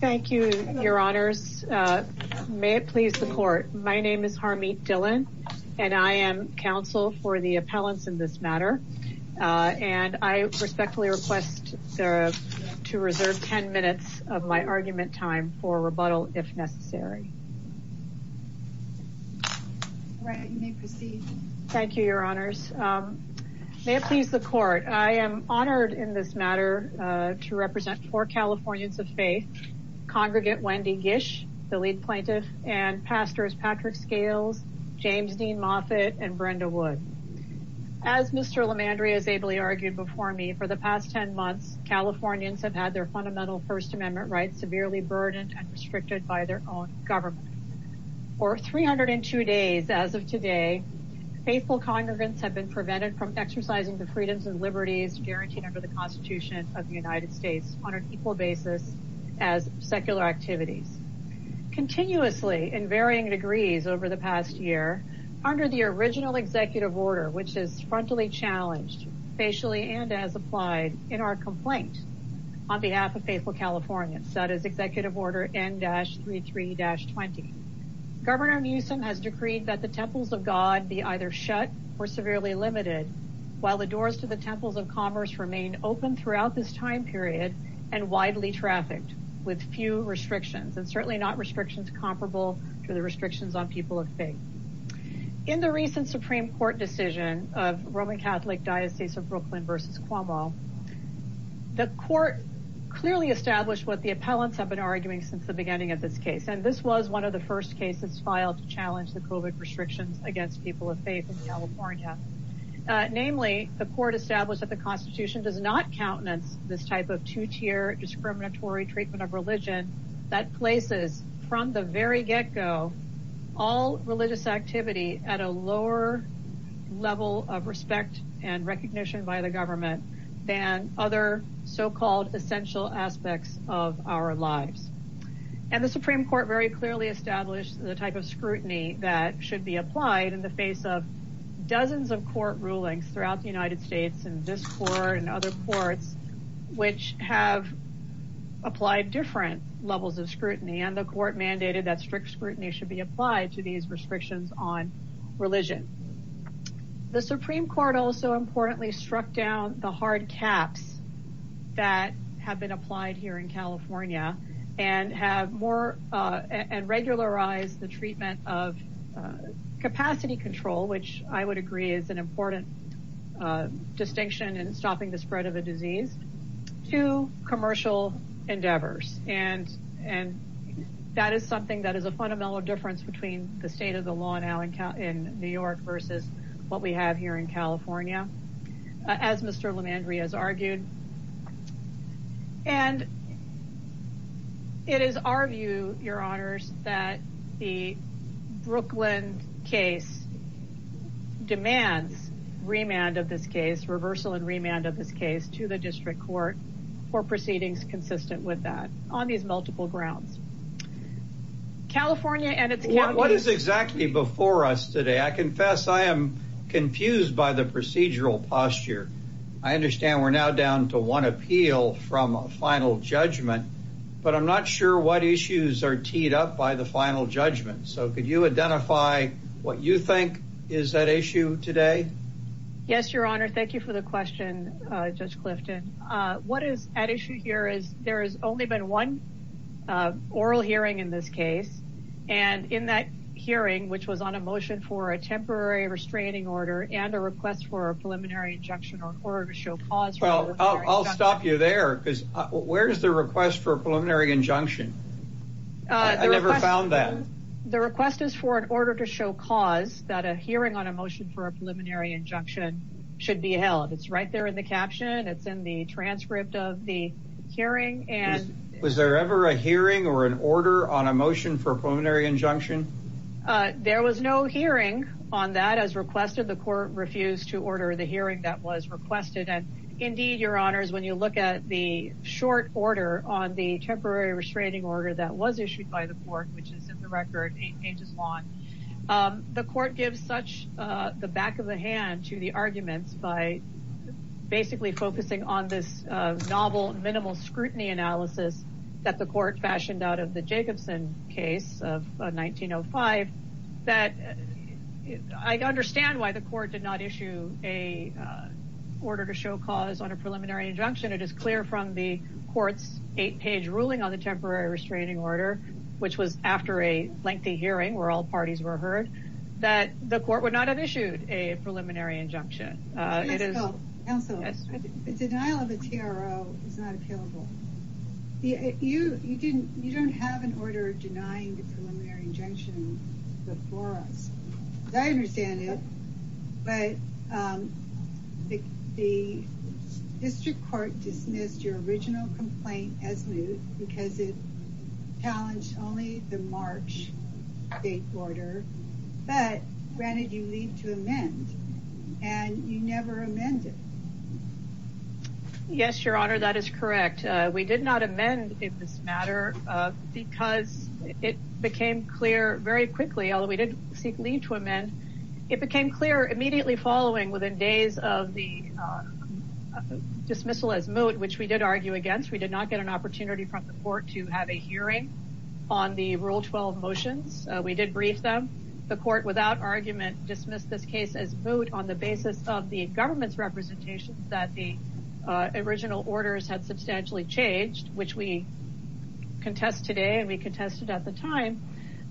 Thank you, your honors. May it please the court. My name is Harmeet Dhillon, and I am counsel for the appellants in this matter. And I respectfully request to reserve 10 minutes of my argument time for rebuttal if necessary. Thank you, your honors. May it please the court. I am honored in this matter to represent four Californians of faith, Congregant Wendy Gish, the lead plaintiff, and Pastors Patrick Scales, James Dean Moffitt, and Brenda Wood. As Mr. LaMandria has ably argued before me, for the past 10 months, Californians have had their fundamental First Amendment rights severely burdened and restricted by their own government. For 302 days as of today, faithful congregants have been prevented from exercising the freedoms and liberties guaranteed under the Constitution of the United States on an equal basis as secular activities. Continuously in varying degrees over the past year, under the original executive order, which is frontally challenged, facially and as applied in our complaint on behalf of faithful Californians, that is Executive Order N-33-20, Governor Newsom has decreed that the temples of God be either shut or severely limited, while the doors to the temples of commerce remain open throughout this time period and widely trafficked with few restrictions, and certainly not restrictions comparable to the restrictions on people of faith. In the recent Supreme Court decision of Roman Catholic Diocese of Brooklyn v. Cuomo, the court clearly established what the appellants have been arguing since the beginning of this case, and this was one of the first cases filed to challenge the COVID restrictions against people of faith in California. Namely, the court established that the Constitution does not countenance this type of two-tier discriminatory treatment of religion that places, from the very get-go, all religious activity at a lower level of respect and recognition by the government than other so-called essential aspects of our lives. And the Supreme Court very clearly established the type of scrutiny that should be applied in the face of dozens of court rulings throughout the United States, in this court and other courts, which have applied different levels of scrutiny, and the court mandated that strict scrutiny should be applied to these restrictions on religion. The Supreme Court also importantly struck down the hard caps that have been applied here in California and regularized the treatment of capacity control, which I would agree is an important distinction in stopping the spread of a disease, to commercial endeavors. And that is something that is a fundamental difference between the state of the law now in New York versus what we have here in California, as Mr. Lemandria has argued. And it is our view, your honors, that the Brooklyn case demands remand of this case, reversal and remand of this case, to the district court for proceedings consistent with that, on these multiple grounds. What is exactly before us today? I confess I am confused by the procedural posture. I understand we're now down to one appeal from a final judgment, but I'm not sure what issues are teed up by the final judgment. So could you identify what you think is at issue today? Yes, your honor. Thank you for the question, Judge Clifton. What is at issue here is there has only been one oral hearing in this case. And in that hearing, which was on a motion for a temporary restraining order and a request for a preliminary injunction or order to show cause. Well, I'll stop you there, because where is the request for a preliminary injunction? I never found that. The request is for an order to show cause that a hearing on a transcript of the hearing. Was there ever a hearing or an order on a motion for a preliminary injunction? There was no hearing on that as requested. The court refused to order the hearing that was requested. And indeed, your honors, when you look at the short order on the temporary restraining order that was issued by the court, which is the record eight pages long, the court gives such the back of the hand to the arguments by basically focusing on this novel minimal scrutiny analysis that the court fashioned out of the Jacobson case of 1905. I understand why the court did not issue a order to show cause on a preliminary injunction. It is clear from the court's eight page ruling on the temporary restraining order, which was after a hearing, that the court would not have issued a preliminary injunction. The denial of a TRO is not available. You don't have an order denying the preliminary injunction before us. I understand it, but the district court dismissed your original complaint as but granted you leave to amend and you never amended. Yes, your honor, that is correct. We did not amend in this matter because it became clear very quickly, although we did seek leave to amend, it became clear immediately following within days of the dismissal as moot, which we did argue against. We did not get an opportunity from the court without argument to dismiss this case as moot on the basis of the government's representation that the original orders had substantially changed, which we contest today and we contested at the time.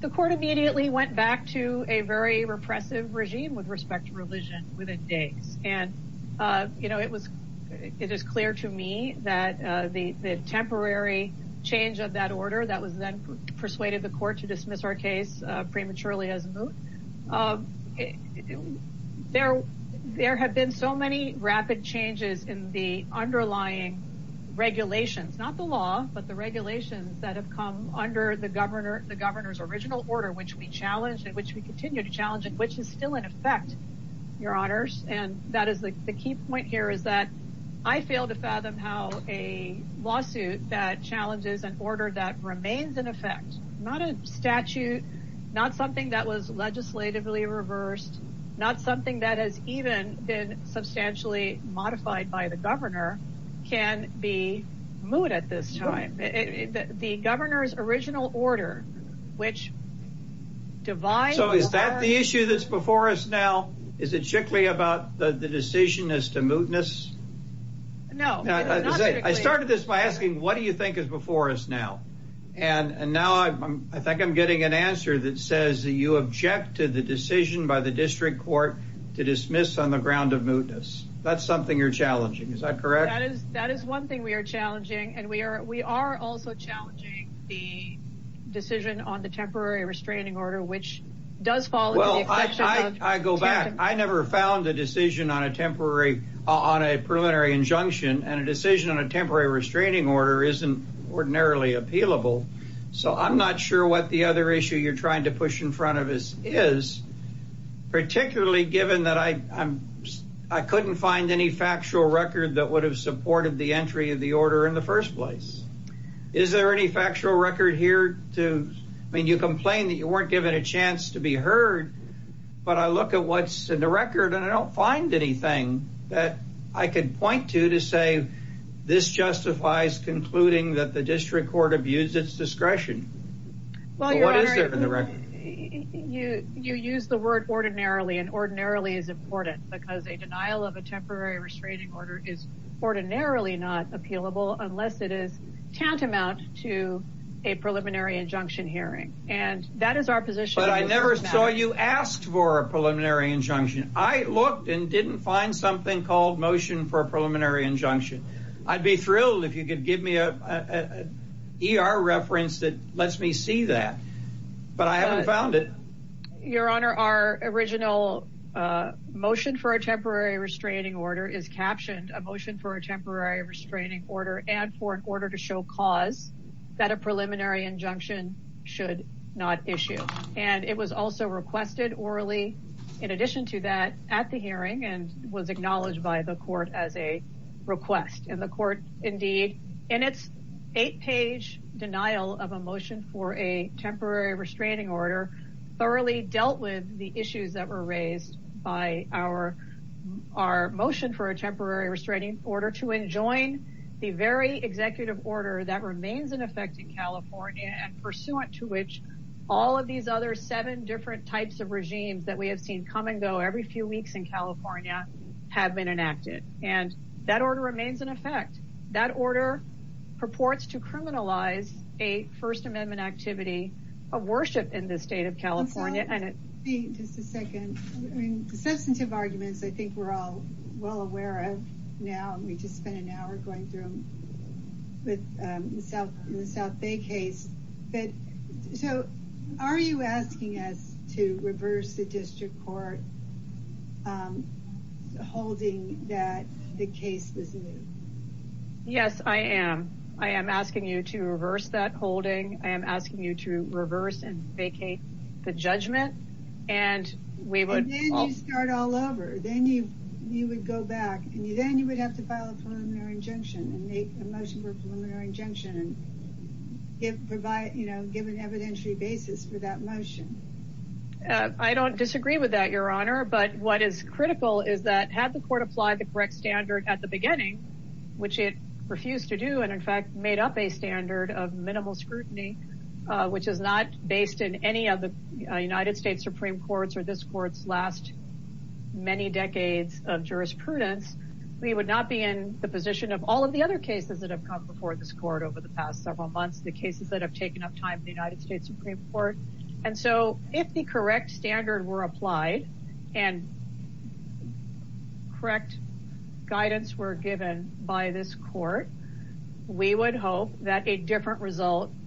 The court immediately went back to a very repressive regime with respect to religion within days. It is clear to me that the temporary change of that order that was then persuaded the case prematurely as moot, there have been so many rapid changes in the underlying regulations, not the law, but the regulations that have come under the governor's original order, which we challenged and which we continue to challenge and which is still in effect, your honors. The key point here is that I fail to fathom how a lawsuit that challenges an order that remains in effect, not a statute, not something that was legislatively reversed, not something that has even been substantially modified by the governor, can be moot at this time. The governor's original order, which divides... So is that the issue that's before us now? Is it strictly about the decision as to mootness? No. I started this by asking what do you think is before us now? And now I think I'm getting an answer that says that you object to the decision by the district court to dismiss on the ground of mootness. That's something you're challenging, is that correct? That is one thing we are challenging and we are also challenging the decision on the temporary restraining order, which does fall into the... Well, I go back. I never found a decision on a temporary, on a preliminary injunction and a decision on a temporary restraining order isn't ordinarily appealable. So I'm not sure what the other issue you're trying to push in front of us is, particularly given that I couldn't find any factual record that would have supported the entry of the order in the first place. Is there any factual record here to... I mean, you complain that you weren't given a chance to be heard, but I look at what's in the record and I don't find anything that I can point to to say this justifies concluding that the district court abused its discretion. What is there in the record? You use the word ordinarily and ordinarily is important because a denial of a temporary restraining order is ordinarily not appealable unless it is tantamount to a preliminary injunction hearing and that is But I never saw you asked for a preliminary injunction. I looked and didn't find something called motion for a preliminary injunction. I'd be thrilled if you could give me a ER reference that lets me see that, but I haven't found it. Your honor, our original motion for a temporary restraining order is captioned a motion for a temporary restraining order and for an order to show cause that a preliminary injunction should not issue and it was also requested orally in addition to that at the hearing and was acknowledged by the court as a request and the court indeed in its eight page denial of a motion for a temporary restraining order thoroughly dealt with the issues that were raised by our motion for a temporary restraining order to enjoin the very executive order that remains in effect in California and pursuant to which all of these other seven different types of regimes that we have seen come and go every few weeks in California have been enacted and that order remains in effect. That order purports to criminalize a first amendment activity of worship in the state of California and it just a second. I mean the substantive arguments I think we're all well aware of now and we just spent an hour going through with the South Bay case, but so are you asking us to reverse the district court holding that the case was moved? Yes, I am. I am asking you to reverse that holding. I am asking you to reverse and vacate the judgment and we would start all over then you would go back and then you would have to file a preliminary injunction and make a motion for preliminary injunction and provide you know give an evidentiary basis for that motion. I don't disagree with that your honor but what is critical is that had the court applied the correct standard at the beginning which it refused to do and in fact made up a standard of minimal scrutiny which is not based in any of the United States Supreme Courts or this court's last many decades of jurisprudence, we would not be in the position of all of the other cases that have come before this court over the past several months. The cases that have taken up time in the United States Supreme Court and so if the correct standard were applied and correct guidance were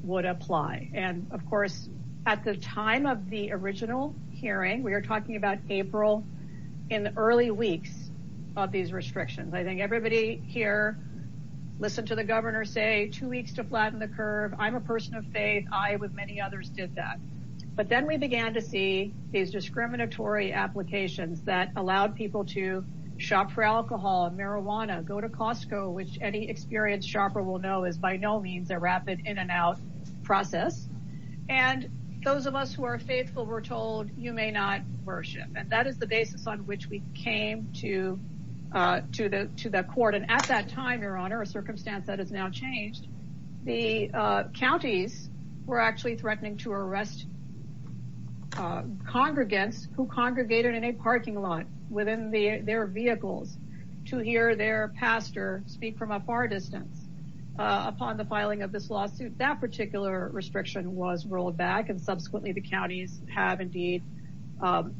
would apply and of course at the time of the original hearing we are talking about April in the early weeks of these restrictions. I think everybody here listened to the governor say two weeks to flatten the curve. I'm a person of faith. I with many others did that but then we began to see these discriminatory applications that allowed people to shop for alcohol and marijuana go to in and out process and those of us who are faithful were told you may not worship and that is the basis on which we came to the court and at that time your honor a circumstance that has now changed the counties were actually threatening to arrest congregants who congregated in a parking lot within their vehicles to hear their pastor speak from a far distance upon the filing of lawsuit that particular restriction was rolled back and subsequently the counties have indeed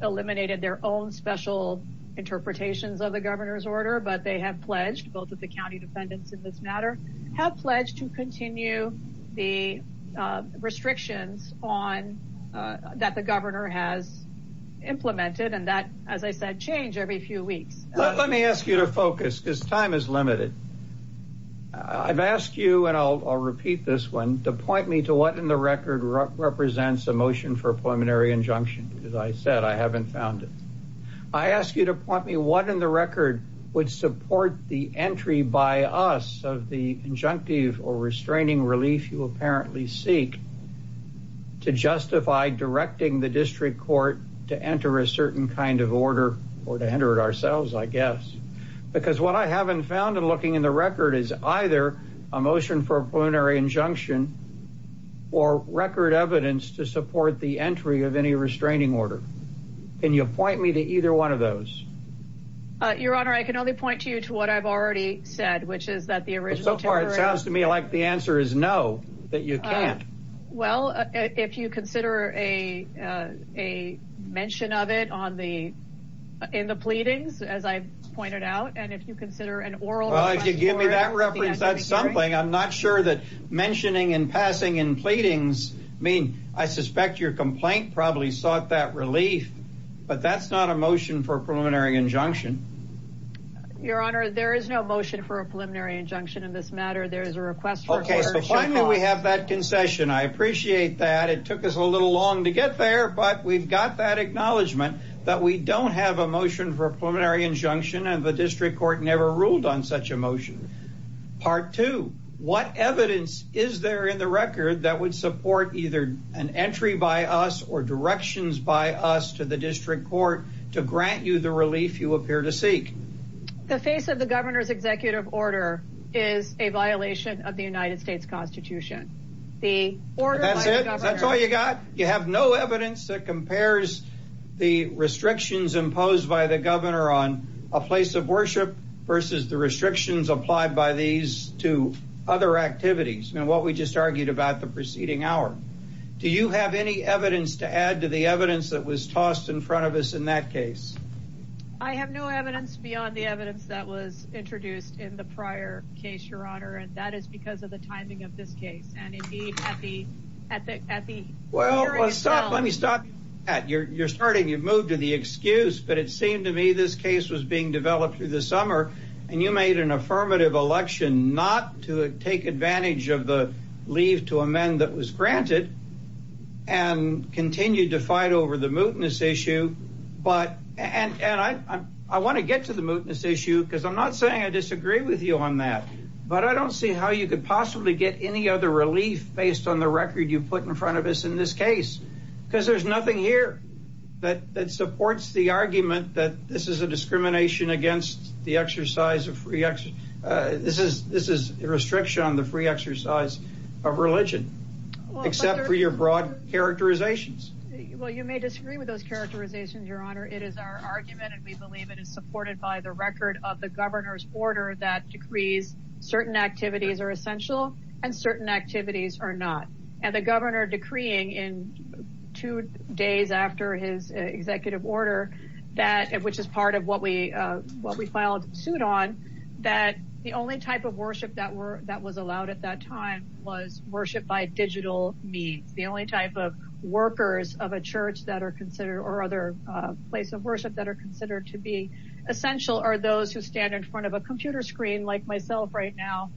eliminated their own special interpretations of the governor's order but they have pledged both of the county defendants in this matter have pledged to continue the restrictions on that the governor has implemented and that as I said change every few weeks. Let me ask you to focus because time is limited. I've asked you and I'll repeat this one to point me to what in the record represents a motion for a pulmonary injunction because I said I haven't found it. I ask you to point me what in the record would support the entry by us of the injunctive or restraining relief you apparently seek to justify directing the district court to enter a certain kind of I haven't found in looking in the record is either a motion for a pulmonary injunction or record evidence to support the entry of any restraining order. Can you point me to either one of those? Your honor I can only point to you to what I've already said which is that the original so far it sounds to me like the answer is no that you can't. Well if you consider a a mention of it on the in the pleadings as I pointed out and if you consider an oral. Well if you give me that reference that's something I'm not sure that mentioning and passing in pleadings mean I suspect your complaint probably sought that relief but that's not a motion for a preliminary injunction. Your honor there is no motion for a preliminary injunction in this matter there is a request. Okay so finally we have that concession I appreciate that it took us a little long to get there but we've got that acknowledgement that we don't have a motion for a preliminary injunction and the district court never ruled on such a motion. Part two what evidence is there in the record that would support either an entry by us or directions by us to the district court to grant you the relief you appear to seek? The face of the governor's executive order is a violation of the the restrictions imposed by the governor on a place of worship versus the restrictions applied by these two other activities and what we just argued about the preceding hour. Do you have any evidence to add to the evidence that was tossed in front of us in that case? I have no evidence beyond the evidence that was introduced in the prior case your honor and that is because of the timing of this case and indeed at the hearing as well. Well let me stop you're starting you've moved to the excuse but it seemed to me this case was being developed through the summer and you made an affirmative election not to take advantage of the leave to amend that was granted and continued to fight over the mootness issue but and I want to get to the mootness issue because I'm not saying I disagree with you on that but I don't see how you could possibly get any other relief based on the record you put in front of us in this case because there's nothing here that that supports the argument that this is a discrimination against the exercise of free action. This is this is a restriction on the free exercise of religion except for your broad characterizations. Well you may disagree with those characterizations your honor it is our record of the governor's order that decrees certain activities are essential and certain activities are not and the governor decreeing in two days after his executive order that which is part of what we what we filed suit on that the only type of worship that were that was allowed at that time was worship by digital means. The only type of workers of a church that are considered or other place of worship that are considered to be essential are those who stand in front of a computer screen like myself right now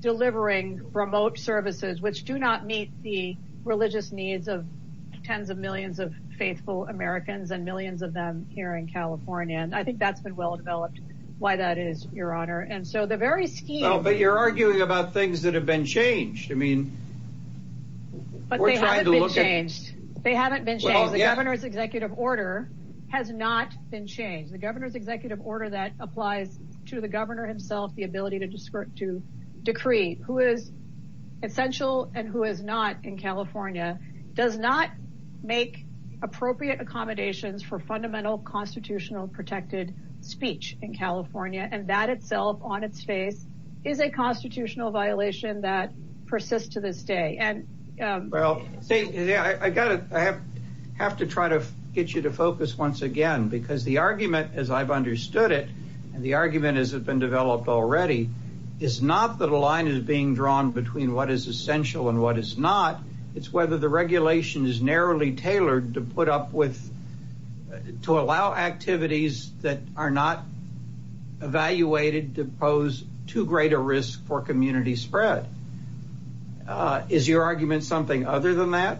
delivering remote services which do not meet the religious needs of tens of millions of faithful Americans and millions of them here in California and I think that's been well developed why that is your honor and so the very scheme. But you're arguing about things that have been changed I mean. But they haven't been changed they haven't been changed the governor's executive order has not been changed the governor's executive order that applies to the governor himself the ability to to decree who is essential and who is not in California does not make appropriate accommodations for fundamental constitutional protected speech in California and that itself on its face is a constitutional violation that persists to this day and well see I gotta I have to try to get you to focus once again because the argument as I've understood it and the argument has been developed already is not that a line is being drawn between what is essential and what is not it's whether the regulation is narrowly tailored to put up with to allow activities that are not evaluated to pose too great a risk for community spread. Is your argument something other than that?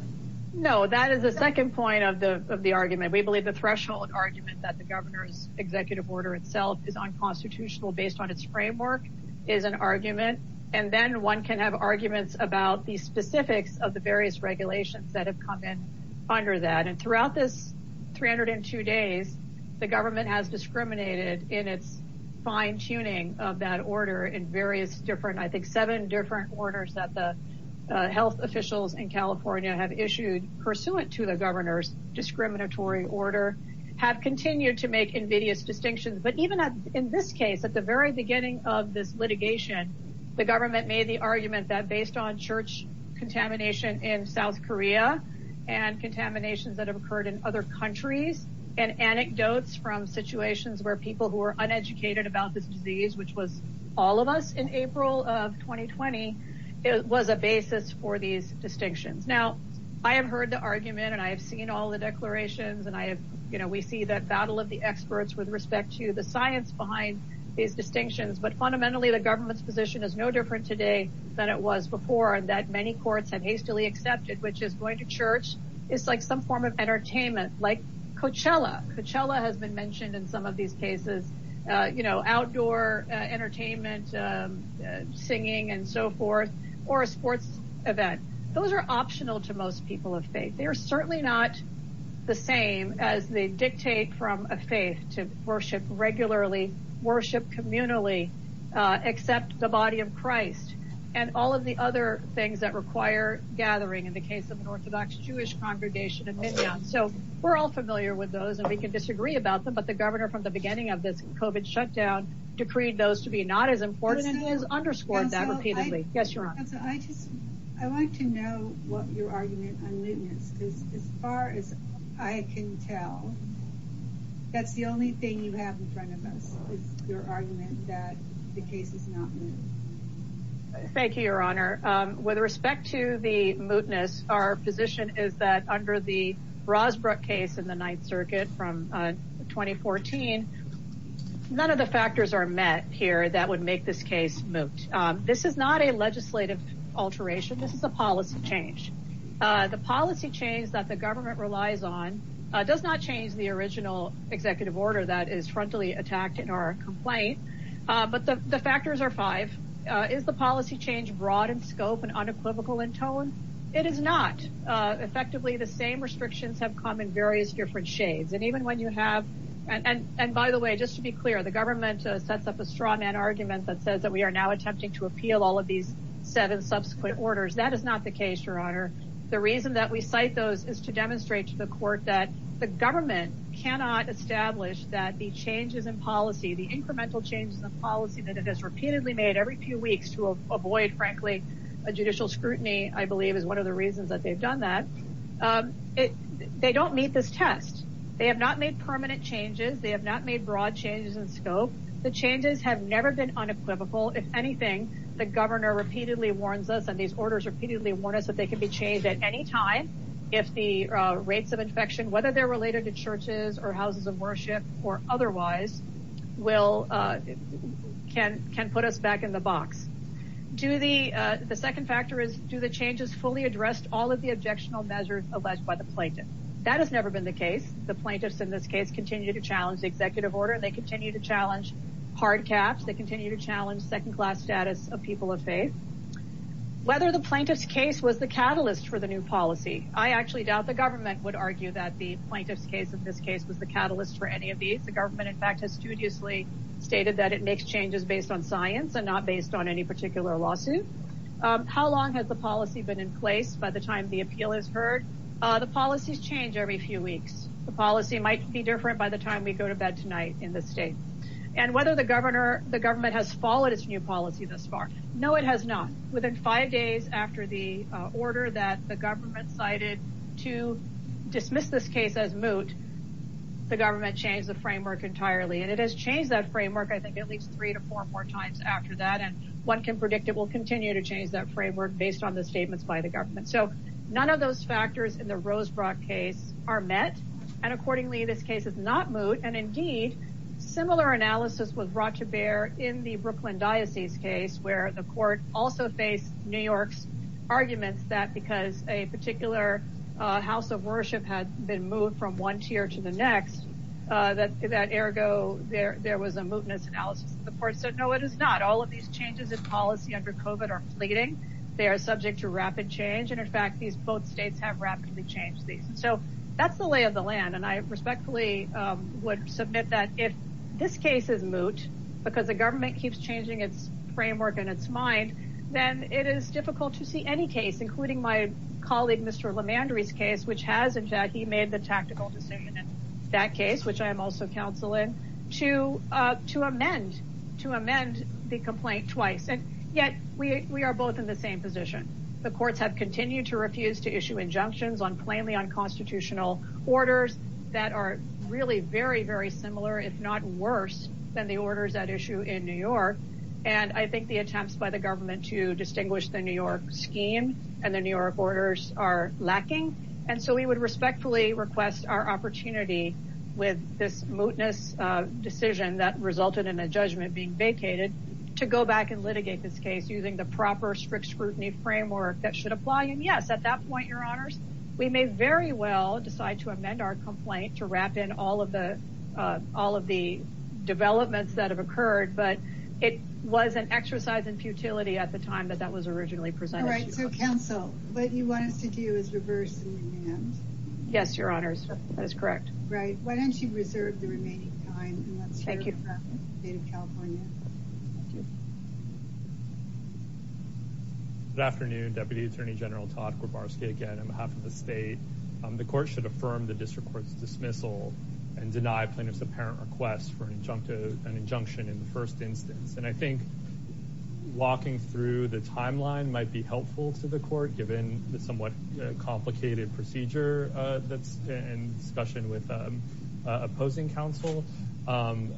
No that is the second point of the of the argument we believe the threshold argument that the governor's executive order itself is unconstitutional based on its framework is an argument and then one can have arguments about the specifics of the two days the government has discriminated in its fine-tuning of that order in various different I think seven different orders that the health officials in California have issued pursuant to the governor's discriminatory order have continued to make invidious distinctions but even in this case at the very beginning of this litigation the government made the argument that based on church contamination in South Korea and contaminations that have occurred in other countries and anecdotes from situations where people who are uneducated about this disease which was all of us in April of 2020 it was a basis for these distinctions now I have heard the argument and I have seen all the declarations and I have you know we see that battle of the experts with respect to the science behind these distinctions but fundamentally the government's position is no different today than it was before and that many courts have hastily accepted which is going church it's like some form of entertainment like Coachella Coachella has been mentioned in some of these cases you know outdoor entertainment singing and so forth or a sports event those are optional to most people of faith they are certainly not the same as they dictate from a faith to worship regularly worship communally accept the body of Christ and all of the other things that require gathering in the case of an orthodox Jewish congregation and midtown so we're all familiar with those and we can disagree about them but the governor from the beginning of this COVID shutdown decreed those to be not as important and has underscored that repeatedly yes your honor so I just I want to know what your argument on mootness is as far as I can tell that's the only thing you have in front of us is your argument that the case is not thank you your honor with respect to the mootness our position is that under the Rosbrook case in the ninth circuit from 2014 none of the factors are met here that would make this case moot this is not a legislative alteration this is a policy change the policy change that the government relies on does not change the original executive order that is frontally attacked in our complaint but the the factors are five is the policy change broad in scope and unequivocal in tone it is not effectively the same restrictions have come in various different shades and even when you have and and by the way just to be clear the government sets up a straw man argument that says that we are now attempting to appeal all of these seven subsequent orders that is not the case your honor the reason that we cite those is to demonstrate to the court that the government cannot establish that the changes in policy the incremental changes in the policy that it has repeatedly made every few weeks to avoid frankly a judicial scrutiny i believe is one of the reasons that they've done that it they don't meet this test they have not made permanent changes they have not made broad changes in scope the changes have never been unequivocal if anything the governor repeatedly warns us and these orders repeatedly warn us that they can be changed at any time if the rates of infection whether they're related to churches or houses of worship or otherwise will uh can can put us back in the box do the uh the second factor is do the changes fully addressed all of the objectionable measures alleged by the plaintiff that has never been the case the plaintiffs in this case continue to challenge the executive order and they continue to challenge hard caps they continue to challenge second class status of people of faith whether the plaintiff's was the catalyst for the new policy i actually doubt the government would argue that the plaintiff's case in this case was the catalyst for any of these the government in fact has studiously stated that it makes changes based on science and not based on any particular lawsuit how long has the policy been in place by the time the appeal is heard the policies change every few weeks the policy might be different by the time we go to bed tonight in this state and whether the governor the government has followed its new policy thus far no it has not within five days after the order that the government cited to dismiss this case as moot the government changed the framework entirely and it has changed that framework i think at least three to four more times after that and one can predict it will continue to change that framework based on the statements by the government so none of those factors in the rosebrock case are met and accordingly this case is not moot and indeed similar analysis was brought to bear in the arguments that because a particular house of worship had been moved from one tier to the next uh that that ergo there there was a mootness analysis of the court so no it is not all of these changes in policy under covet are fleeting they are subject to rapid change and in fact these both states have rapidly changed these so that's the lay of the land and i respectfully um would submit that if this case is moot because the government keeps changing its framework and its mind then it is difficult to see any case including my colleague mr lemandry's case which has in fact he made the tactical decision in that case which i am also counseling to uh to amend to amend the complaint twice and yet we we are both in the same position the courts have continued to refuse to issue injunctions on plainly unconstitutional orders that are really very very similar if not worse than the orders at issue in new york and i think the attempts by the government to distinguish the new york scheme and the new york orders are lacking and so we would respectfully request our opportunity with this mootness uh decision that resulted in a judgment being vacated to go back and litigate this case using the proper strict scrutiny framework that should apply and yes at that point your honors we may very well decide to amend our complaint to wrap in all of the uh all of the developments that have occurred but it was an exercise in futility at the time that that was originally presented all right so counsel what you want us to do is reverse the demand yes your honors that is correct right why don't you reserve the remaining time thank you state of california thank you good afternoon deputy attorney general todd kowarski again on behalf of the state the court should affirm the district court's dismissal and deny plaintiff's apparent request for an injunctive an injunction in the first instance and i think walking through the timeline might be helpful to the court given the somewhat complicated procedure uh that's in discussion with opposing counsel um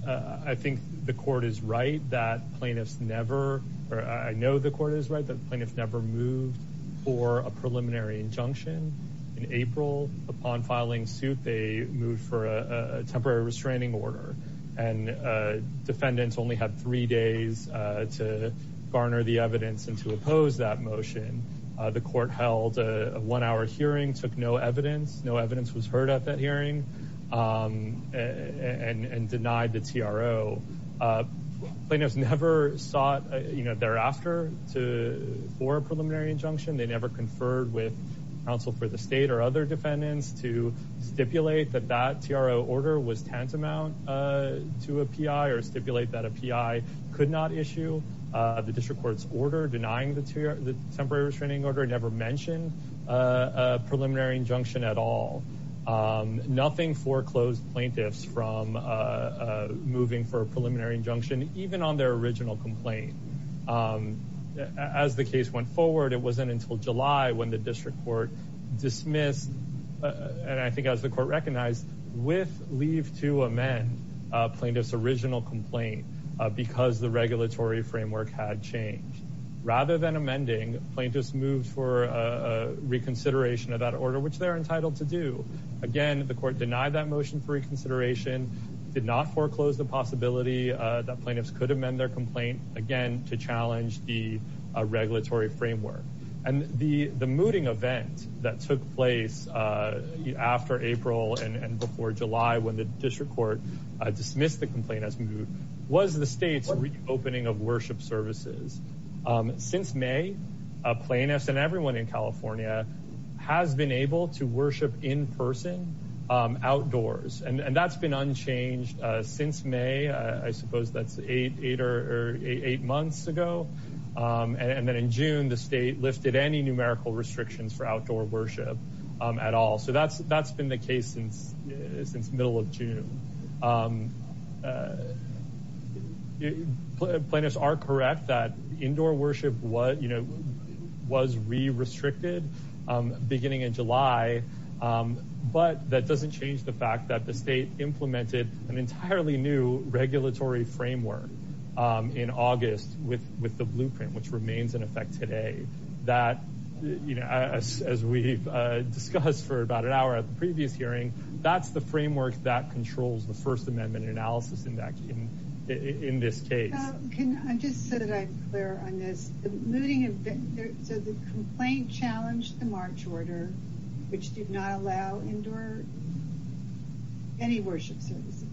i think the court is right that plaintiffs never or i know the court is that plaintiff never moved for a preliminary injunction in april upon filing suit they moved for a temporary restraining order and uh defendants only had three days uh to garner the evidence and to oppose that motion uh the court held a one-hour hearing took no evidence no evidence was heard at um and and denied the tro uh plaintiffs never sought you know thereafter to for a preliminary injunction they never conferred with counsel for the state or other defendants to stipulate that that tro order was tantamount uh to a pi or stipulate that a pi could not issue uh the district court's order denying the two the temporary restraining order never mentioned a preliminary injunction at all um nothing foreclosed plaintiffs from uh uh moving for a preliminary injunction even on their original complaint um as the case went forward it wasn't until july when the district court dismissed and i think as the court recognized with leave to amend uh plaintiff's original complaint because the regulatory framework had changed rather than reconsideration of that order which they're entitled to do again the court denied that motion for reconsideration did not foreclose the possibility uh that plaintiffs could amend their complaint again to challenge the regulatory framework and the the mooting event that took place uh after april and and before july when the district court uh dismissed the complaint as moved was the state's reopening of worship services um since may uh plaintiffs and everyone in california has been able to worship in person um outdoors and and that's been unchanged uh since may i suppose that's eight eight or eight months ago um and then in june the state lifted any numerical restrictions for outdoor worship um at all so that's that's been the case since since middle of june um plaintiffs are correct that indoor worship what you know was re-restricted um beginning in july but that doesn't change the fact that the state implemented an entirely new regulatory framework in august with with the blueprint which remains in effect today that you know as we've uh discussed for about an hour at the previous hearing that's the framework that controls the first amendment analysis index in in this case can i just so that i'm clear on this the mooting event so the complaint challenged the march order which did not allow indoor any worship services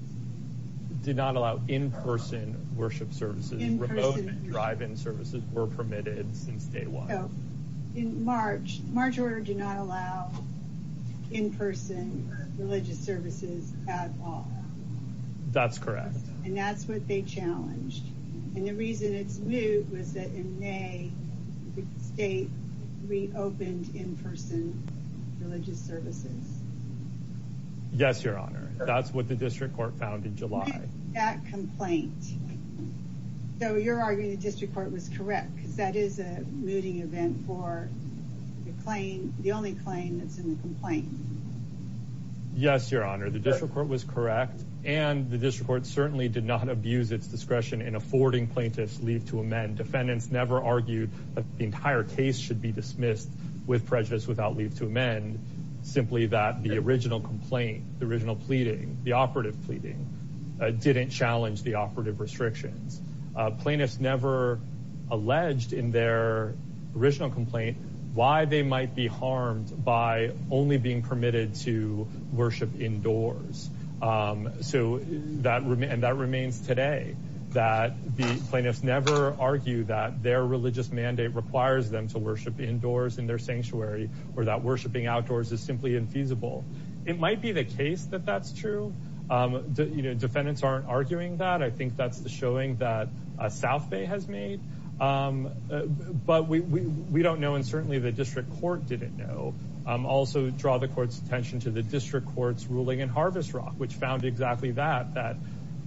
did not allow in-person worship services remote drive-in services were permitted since day one in march march order did not allow in-person religious services at all that's correct and that's what they challenged and the reason it's new was that in may the state reopened in-person religious services yes your honor that's what the district court found in july that complaint so you're arguing the district court was correct because that is a mooting event for the claim the only claim that's in the complaint yes your honor the district court was correct and the district court certainly did not abuse its discretion in affording plaintiffs leave to amend defendants never argued that the entire case should be dismissed with prejudice without leave to amend simply that the original complaint the original pleading the operative pleading didn't challenge the operative restrictions plaintiffs never alleged in their original complaint why they might be harmed by only being permitted to worship indoors so that and that remains today that the plaintiffs never argue that their religious mandate requires them to worship indoors in their sanctuary or that worshiping outdoors is simply infeasible it might be the case that that's true um you know defendants aren't arguing that i think that's the showing that south bay has made um but we we don't know and certainly the district court didn't know um also draw the court's attention to the district court's ruling in harvest rock which found exactly that that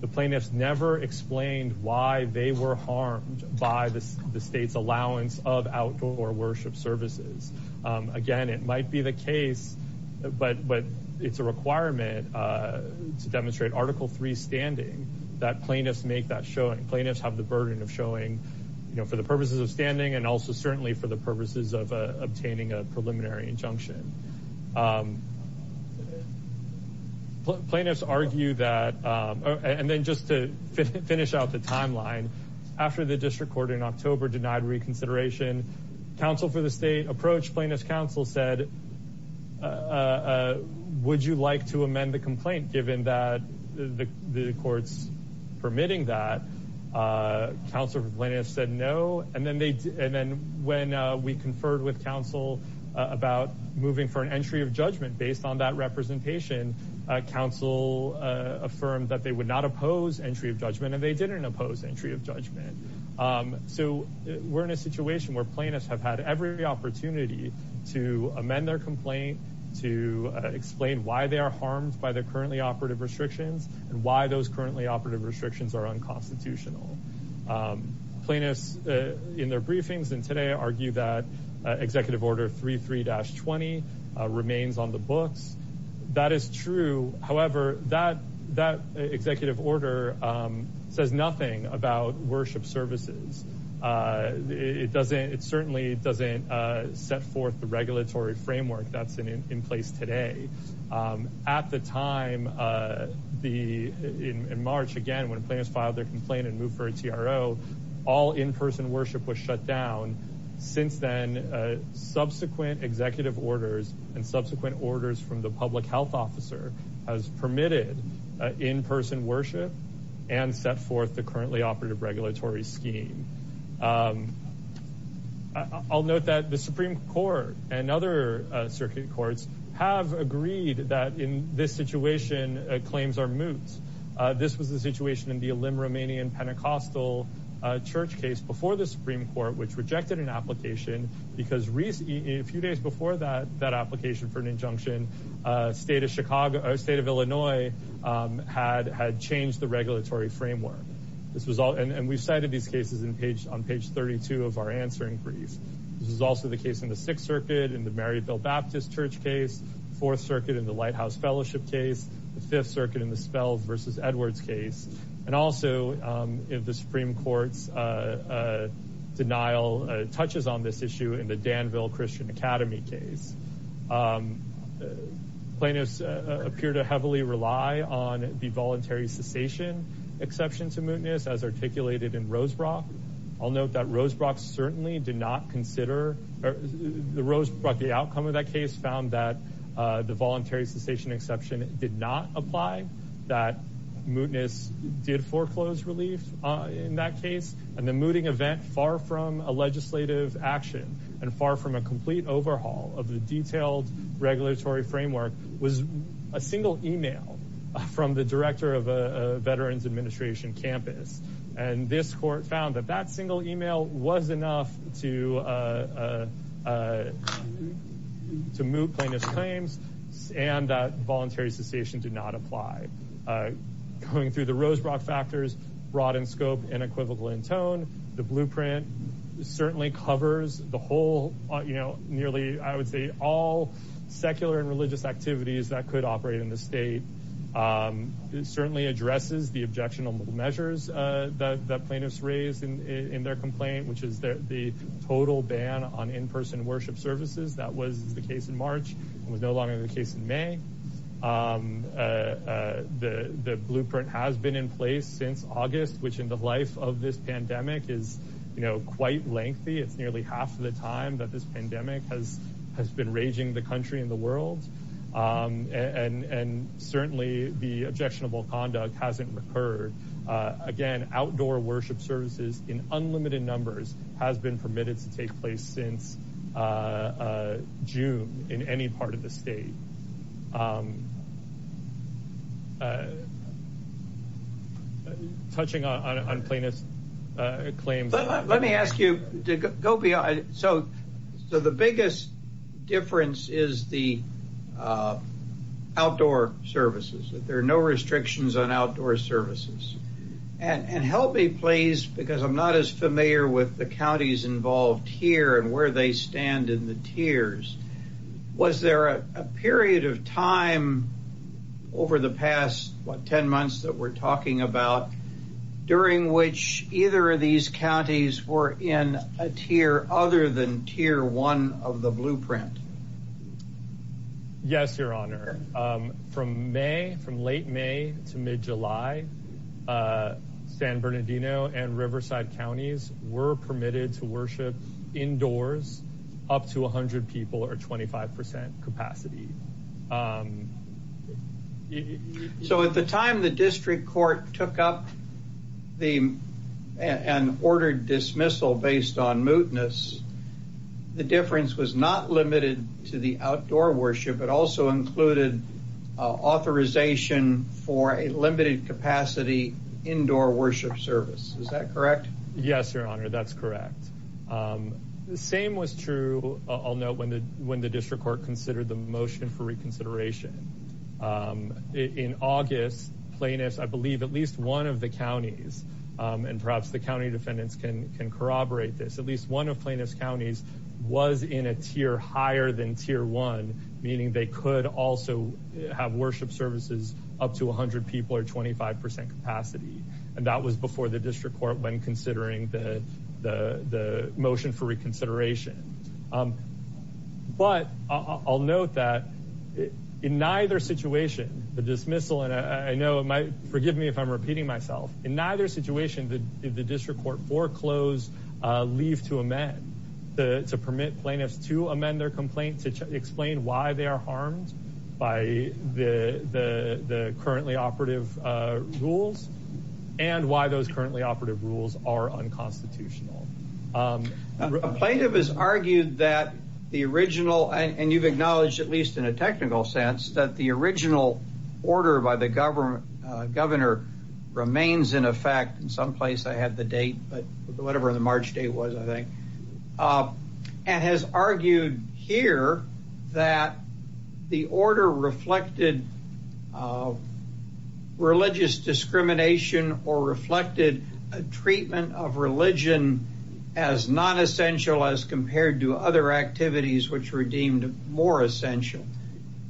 the plaintiffs never explained why they were harmed by the the state's allowance of outdoor worship services um again it might be the case but but it's a requirement uh to demonstrate article three standing that plaintiffs make that showing plaintiffs have the burden of showing you know for the purposes of standing and also certainly for the purposes of obtaining a preliminary injunction um plaintiffs argue that um and then just to finish out the timeline after the district court in october denied reconsideration counsel for the state approach plaintiff's counsel said uh uh would you like to amend the complaint given that the the court's permitting that uh counsel said no and then they and then when uh we conferred with council about moving for an entry of judgment based on that representation council uh affirmed that they would not oppose entry of judgment and they didn't oppose entry of judgment um so we're in a situation where plaintiffs have had every opportunity to amend their complaint to explain why they are harmed by their currently operative restrictions and why those currently operative restrictions are unconstitutional plaintiffs in their briefings and today argue that executive order 33-20 remains on the books that is true however that that about worship services uh it doesn't it certainly doesn't uh set forth the regulatory framework that's in in place today um at the time uh the in in march again when players filed their complaint and moved for a tro all in-person worship was shut down since then uh subsequent executive orders and subsequent orders from the public health officer has permitted in-person worship and set the currently operative regulatory scheme um i'll note that the supreme court and other uh circuit courts have agreed that in this situation uh claims are moot uh this was the situation in the limb romanian pentecostal uh church case before the supreme court which rejected an application because recently a few days before that that application for an injunction uh state of state of illinois um had had changed the regulatory framework this was all and we've cited these cases in page on page 32 of our answering brief this is also the case in the sixth circuit in the maryville baptist church case fourth circuit in the lighthouse fellowship case the fifth circuit in the spells versus edwards case and also um if the supreme court's uh uh denial uh touches on this issue in the danville christian academy case um plaintiffs appear to heavily rely on the voluntary cessation exception to mootness as articulated in rosebrock i'll note that rosebrock certainly did not consider the rose brought the outcome of that case found that uh the voluntary cessation exception did not apply that mootness did foreclose relief in that case and the mooting event far from a legislative action and far from a complete overhaul of the detailed regulatory framework was a single email from the director of a veterans administration campus and this court found that that single email was enough to uh uh to move plaintiff's claims and that voluntary cessation did not apply uh going through the rosebrock factors broad and scoped and equivocal in tone the blueprint certainly covers the whole you know nearly i would say all secular and religious activities that could operate in the state um it certainly addresses the objectionable measures uh that the plaintiffs raised in in their complaint which is the total ban on in-person worship services that was the case in march and was no longer the case in may um uh the the pandemic is you know quite lengthy it's nearly half of the time that this pandemic has has been raging the country in the world um and and certainly the objectionable conduct hasn't recurred uh again outdoor worship services in unlimited numbers has been permitted to take since uh uh june in any part of the state um touching on on plaintiff's uh claims let me ask you to go beyond so so the biggest difference is the uh outdoor services that there are no restrictions on outdoor services and and help me please because i'm not as familiar with the counties involved here and where they stand in the tiers was there a period of time over the past what 10 months that we're talking about during which either of these counties were in a tier other than tier one of the blueprint yes your honor um from may from late may to mid-july uh san bernardino and riverside counties were permitted to worship indoors up to 100 people or 25 capacity um so at the time the district court took up the and ordered dismissal based on mootness the difference was not limited to the outdoor worship but also included authorization for a limited capacity indoor worship service is that correct yes your honor that's correct um the same was true i'll note when the when the district court considered the motion for reconsideration um in august plaintiffs i believe at least one of the counties um and at least one of plaintiffs counties was in a tier higher than tier one meaning they could also have worship services up to 100 people or 25 capacity and that was before the district court when considering the the the motion for reconsideration um but i'll note that in neither situation the dismissal and i know it might forgive me if i'm repeating myself in the to permit plaintiffs to amend their complaint to explain why they are harmed by the the the currently operative uh rules and why those currently operative rules are unconstitutional um a plaintiff has argued that the original and you've acknowledged at least in a technical sense that the original order by the government uh governor remains in effect in some place i had the date but whatever the march day was i think uh and has argued here that the order reflected uh religious discrimination or reflected a treatment of religion as non-essential as compared to other activities which were deemed more essential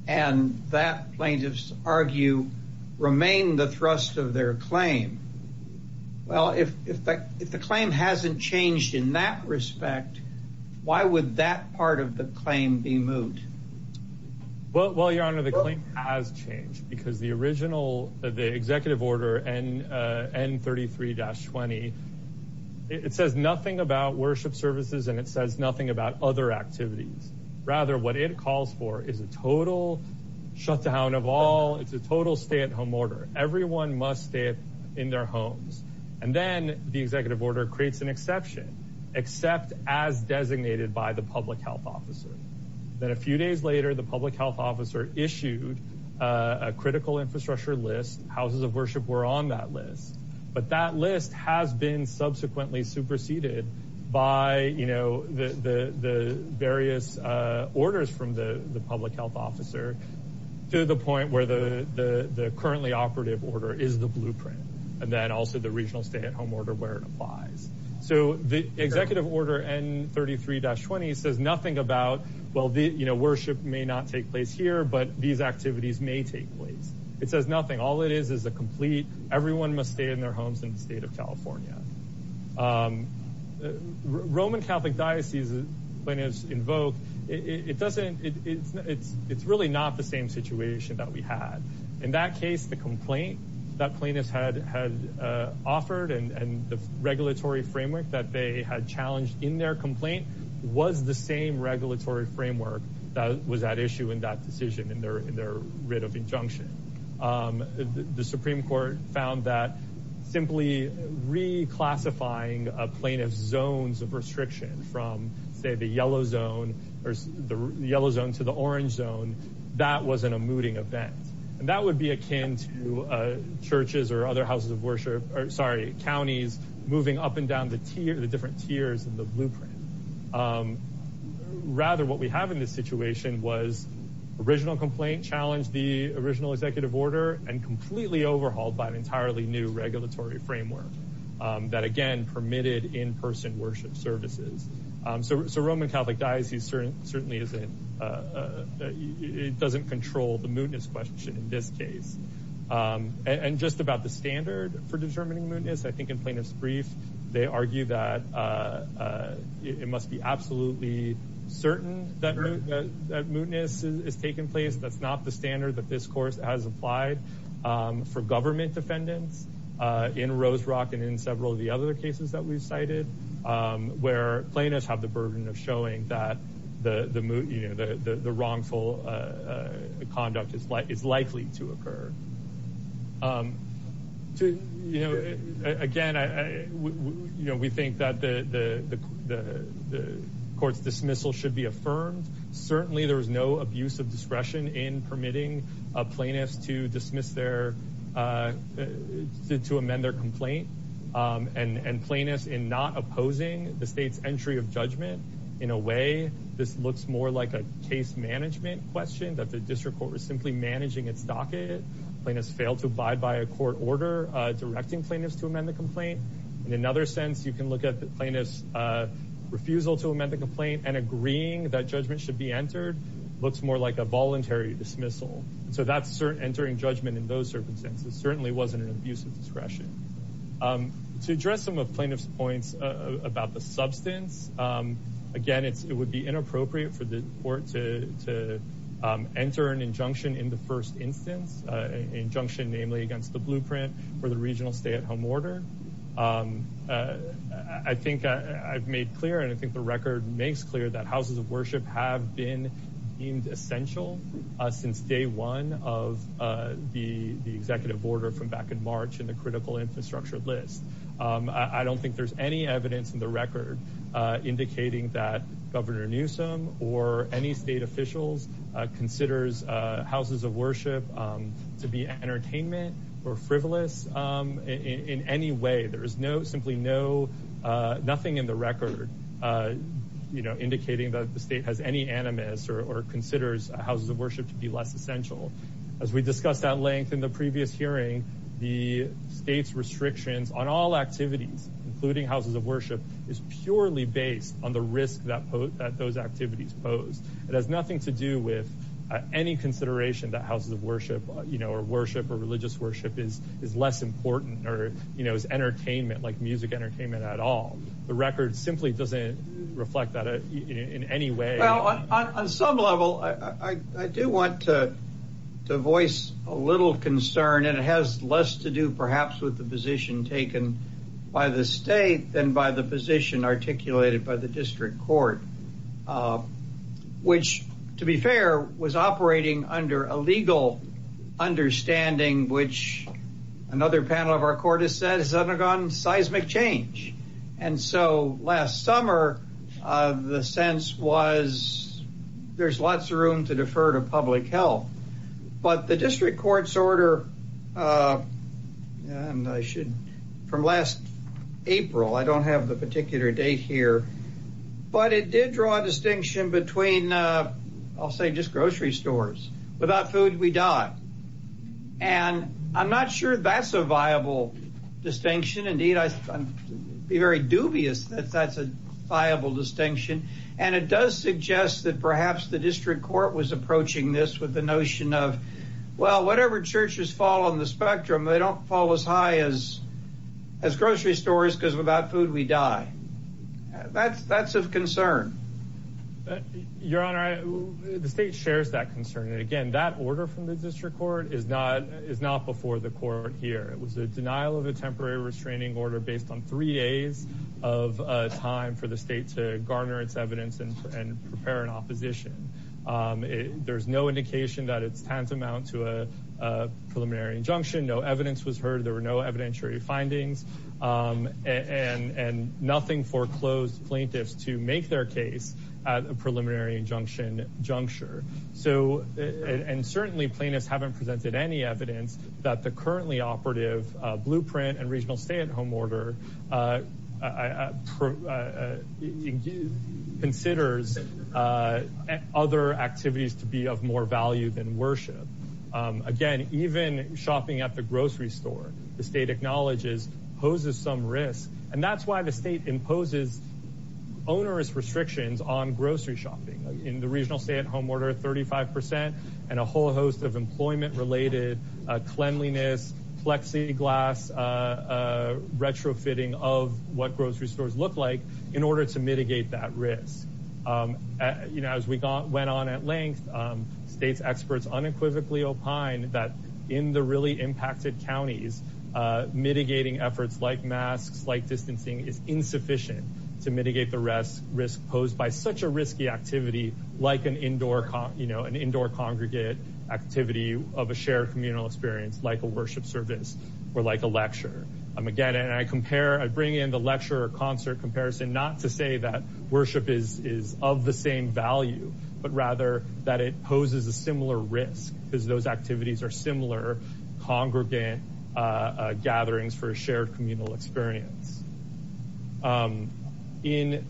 and that plaintiffs argue remain the thrust of their claim well if if the claim hasn't changed in that respect why would that part of the claim be moot well your honor the claim has changed because the original the executive order and uh n33-20 it says nothing about worship services and it says nothing about other activities rather what it calls for is a total shutdown of all it's a total stay-at-home order everyone must stay in their homes and then the executive order creates an exception except as designated by the public health officer then a few days later the public health officer issued a critical infrastructure list houses of the the the various uh orders from the the public health officer to the point where the the the currently operative order is the blueprint and then also the regional stay-at-home order where it applies so the executive order n33-20 says nothing about well the you know worship may not take place here but these activities may take place it says nothing all it is is a complete everyone must stay in their homes in the state of california roman catholic diocese plaintiffs invoke it doesn't it's it's it's really not the same situation that we had in that case the complaint that plaintiffs had had uh offered and and the regulatory framework that they had challenged in their complaint was the same regulatory framework that was at issue in that decision in their in their writ of injunction um the supreme court found that simply reclassifying a plaintiff's zones of restriction from say the yellow zone or the yellow zone to the orange zone that wasn't a mooting event and that would be akin to uh churches or other houses of worship or sorry counties moving up and down the tier the different tiers in the blueprint um rather what we have in this situation was original complaint challenged the original executive order and completely overhauled by an entirely new regulatory framework that again permitted in-person worship services um so roman catholic diocese certain certainly isn't uh it doesn't control the mootness question in this case um and just about the standard for it must be absolutely certain that that mootness is taking place that's not the standard that this course has applied um for government defendants uh in rose rock and in several of the other cases that we've cited um where plaintiffs have the burden of showing that the the you know the the wrongful uh conduct is like it's likely to occur um to you know again i i you know we think that the the the the court's dismissal should be affirmed certainly there is no abuse of discretion in permitting a plaintiff's to dismiss their uh to amend their complaint um and and plaintiffs in the state's entry of judgment in a way this looks more like a case management question that the district court was simply managing its docket plaintiffs failed to abide by a court order uh directing plaintiffs to amend the complaint in another sense you can look at the plaintiff's uh refusal to amend the complaint and agreeing that judgment should be entered looks more like a voluntary dismissal so that's certain entering judgment in those circumstances certainly wasn't use of discretion um to address some of plaintiff's points uh about the substance um again it's it would be inappropriate for the court to to um enter an injunction in the first instance uh injunction namely against the blueprint for the regional stay-at-home order um uh i think i've made clear and i think the record makes clear that houses of worship have been deemed essential since day one of uh the the executive order from back in march in the critical infrastructure list um i don't think there's any evidence in the record uh indicating that governor newsom or any state officials uh considers uh houses of worship um to be entertainment or frivolous um in any way there is no simply no uh nothing in the record uh you know indicating that the essential as we discussed at length in the previous hearing the state's restrictions on all activities including houses of worship is purely based on the risk that those activities pose it has nothing to do with any consideration that houses of worship you know or worship or religious worship is is less important or you know as entertainment like music entertainment at all the record simply doesn't reflect that in any way well on some level i i do want to to voice a little concern and it has less to do perhaps with the position taken by the state than by the position articulated by the district court which to be fair was operating under a legal understanding which another panel of our court said has undergone seismic change and so last summer uh the sense was there's lots of room to defer to public health but the district court's order uh and i should from last april i don't have the particular date here but it did draw a distinction between uh i'll say just grocery stores without food we die and i'm not sure that's a viable distinction indeed i'd be very dubious that that's a viable distinction and it does suggest that perhaps the district court was approaching this with the notion of well whatever churches fall on the spectrum they don't fall as high as as grocery stores because without food we die that's that's of concern your honor i the state shares that concern and again that order from the district court is not is not before the court here it was a denial of a temporary restraining order based on three days of uh time for the state to garner its evidence and and prepare an opposition um there's no indication that it's tantamount to a preliminary injunction no evidence was heard there were no evidentiary findings um and and nothing foreclosed plaintiffs to make their case at a preliminary injunction juncture so and certainly plaintiffs haven't presented any evidence that the currently operative uh blueprint and regional stay-at-home order uh considers uh other activities to be of more value than worship um again even shopping at the grocery store the state acknowledges poses some risk and that's why the state imposes onerous restrictions on grocery shopping in the regional stay-at-home order 35 percent and a whole host of employment related uh cleanliness plexiglass uh retrofitting of what grocery stores look like in order to mitigate that risk um you know as we got went on at length um state's experts unequivocally opine that in the really impacted counties uh mitigating efforts like masks like distancing is insufficient to mitigate the rest risk posed by such a risky activity like an indoor you know an indoor congregate activity of a shared communal experience like a worship service or like a lecture um again and i compare i bring in the lecture or concert comparison not to say that worship is is of the similar congregate uh gatherings for a shared communal experience um in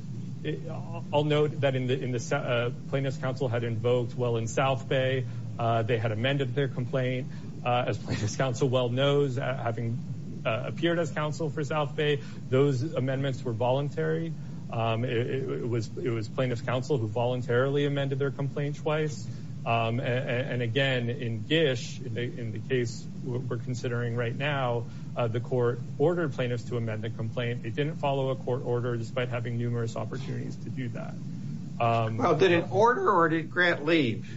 i'll note that in the in the plaintiff's counsel had invoked well in south bay uh they had amended their complaint uh as plaintiff's counsel well knows having appeared as counsel for south bay those amendments were voluntary um it was it was plaintiff's counsel who voluntarily amended their complaint twice um and again in gish in the in the case we're considering right now uh the court ordered plaintiffs to amend the complaint they didn't follow a court order despite having numerous opportunities to do that um well did it order or did grant leave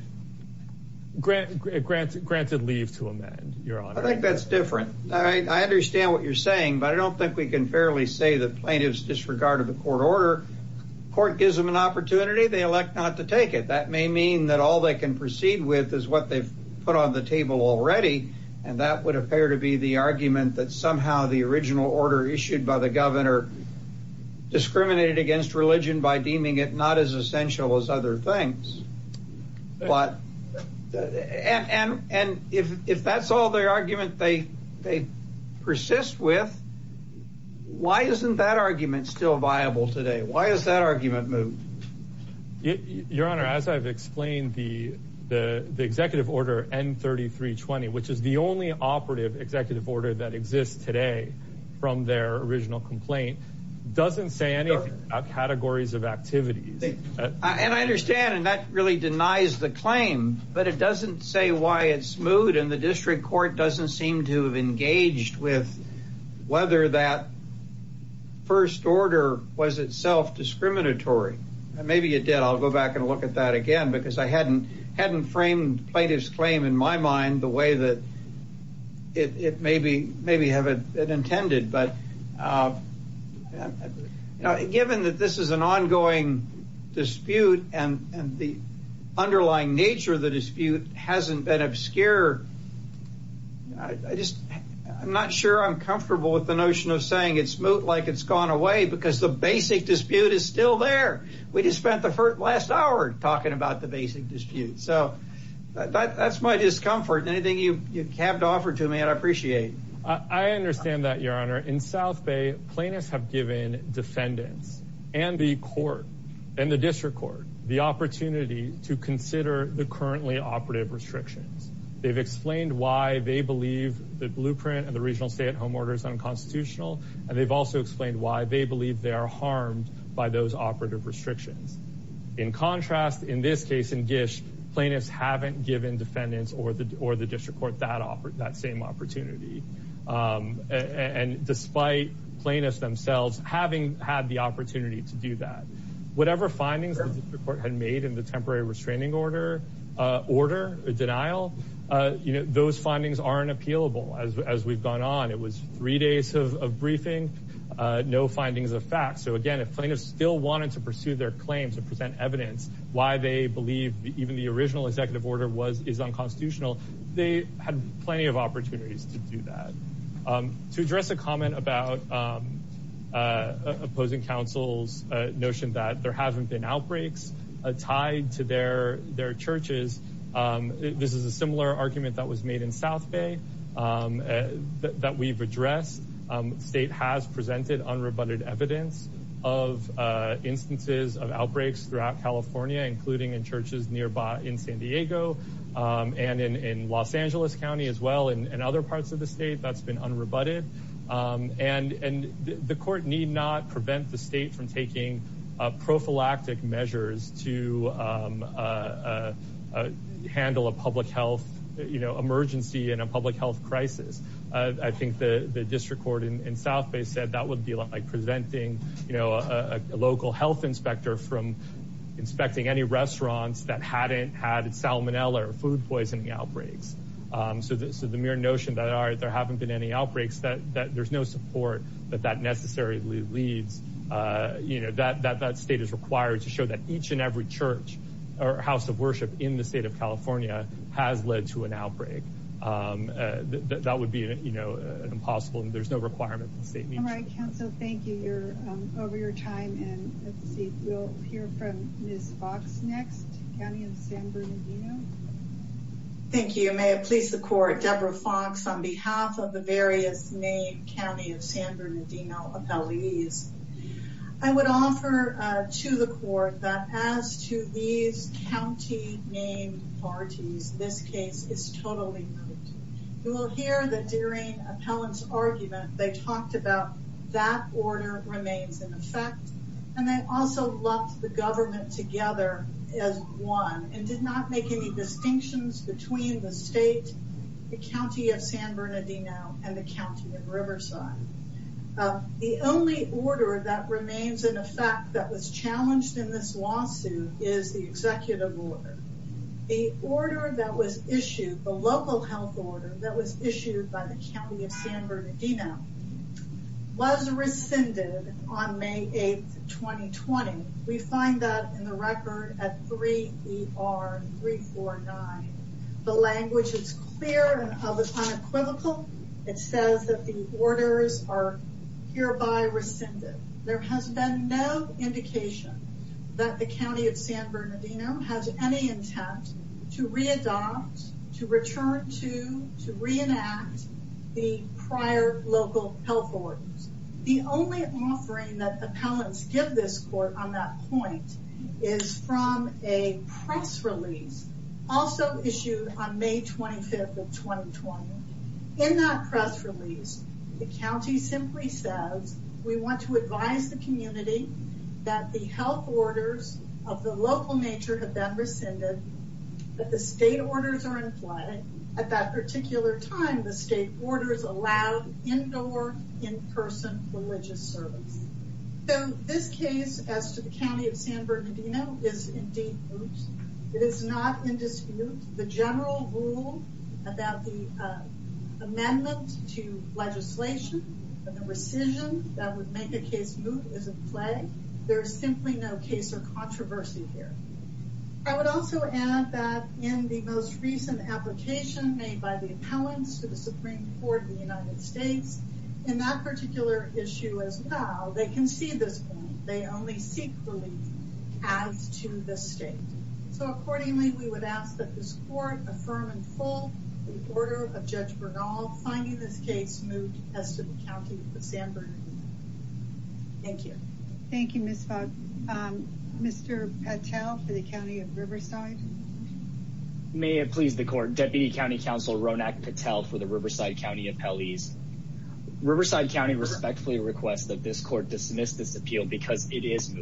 grant granted granted leave to amend your honor i think that's different all right i understand what you're saying but i don't think we can fairly say that plaintiffs disregard of the court order court gives them an opportunity they elect not to take it that may mean that all they can proceed with is what they've put on the table already and that would appear to be the argument that somehow the original order issued by the governor discriminated against religion by deeming it not as essential as other things but and and if if that's all their argument they they persist with why isn't that argument still viable today why is that argument moved your honor as i've explained the the the executive order n 33 20 which is the only operative executive order that exists today from their original complaint doesn't say anything about categories of activities and i understand and that really denies the claim but it doesn't say why it's smooth and the district court doesn't seem to have engaged with whether that first order was itself discriminatory maybe it did i'll go back and look at that again because i hadn't hadn't framed plaintiff's claim in my mind the way that it it may be maybe have it intended but uh you know given that this is an ongoing dispute and and the been obscure i just i'm not sure i'm comfortable with the notion of saying it's smooth like it's gone away because the basic dispute is still there we just spent the first last hour talking about the basic dispute so that that's my discomfort anything you you have to offer to me and i appreciate i i understand that your honor in south bay plaintiffs have given defendants and the court and the district court the opportunity to consider the currently operative restrictions they've explained why they believe the blueprint and the regional stay-at-home order is unconstitutional and they've also explained why they believe they are harmed by those operative restrictions in contrast in this case in gish plaintiffs haven't given defendants or the or the district court that offer that same opportunity um and despite plaintiffs themselves having had the opportunity to do that whatever findings the court had made the temporary restraining order uh order a denial uh you know those findings aren't appealable as as we've gone on it was three days of briefing uh no findings of facts so again if plaintiffs still wanted to pursue their claims to present evidence why they believe even the original executive order was is unconstitutional they had plenty of opportunities to do that to address a comment about um uh opposing council's uh notion that there haven't been outbreaks uh tied to their their churches um this is a similar argument that was made in south bay um that we've addressed um state has presented unrebutted evidence of uh instances of outbreaks throughout california including in churches nearby in san diego um and in in los angeles county as well and other parts of the state that's been unrebutted um and and the court need not prevent the state from taking uh prophylactic measures to um uh uh handle a public health you know emergency and a public health crisis i think the the district court in south bay said that would be like preventing you know a local health inspector from inspecting any restaurants that so this is the mere notion that are there haven't been any outbreaks that that there's no support that that necessarily leads uh you know that that that state is required to show that each and every church or house of worship in the state of california has led to an outbreak um that would be you know an impossible and there's no requirement all right council thank you you're um over your time and let's see we'll hear from miss fox next county of san bernardino thank you may please the court deborah fox on behalf of the various named county of san bernardino appellees i would offer uh to the court that as to these county named parties this case is totally you will hear that during appellant's argument they talked about that order remains in effect and they also locked the government together as one and did not make any distinctions between the state the county of san bernardino and the county of riverside the only order that remains in effect that was challenged in this lawsuit is the executive order the order that was issued the local health order that was issued by the county of san bernardino was rescinded on may 8th 2020 we find that in the record at 3 er 349 the language is clear and of the unequivocal it says that the orders are hereby rescinded there has been no indication that the county of san bernardino has any intent to readopt to return to to reenact the prior local health ordinance the only offering that the appellants give this court on that point is from a press release also issued on may 25th of 2020 in that press release the county simply says we want to advise the community that the health orders of the local nature have been rescinded that the state orders are in play at that particular time the state orders allowed indoor in-person religious service so this case as to the county of san bernardino is indeed it is not in dispute the general rule about the amendment to legislation and the rescission that would make a case move is in controversy here i would also add that in the most recent application made by the appellants to the supreme court in the united states in that particular issue as well they concede this point they only seek relief as to this state so accordingly we would ask that this court affirm and pull the order of judge bernal finding this case moved as to the county of san bernardino thank you thank you mr patel for the county of riverside may it please the court deputy county counsel ronak patel for the riverside county appellees riverside county respectfully requests that this court dismiss this appeal because it is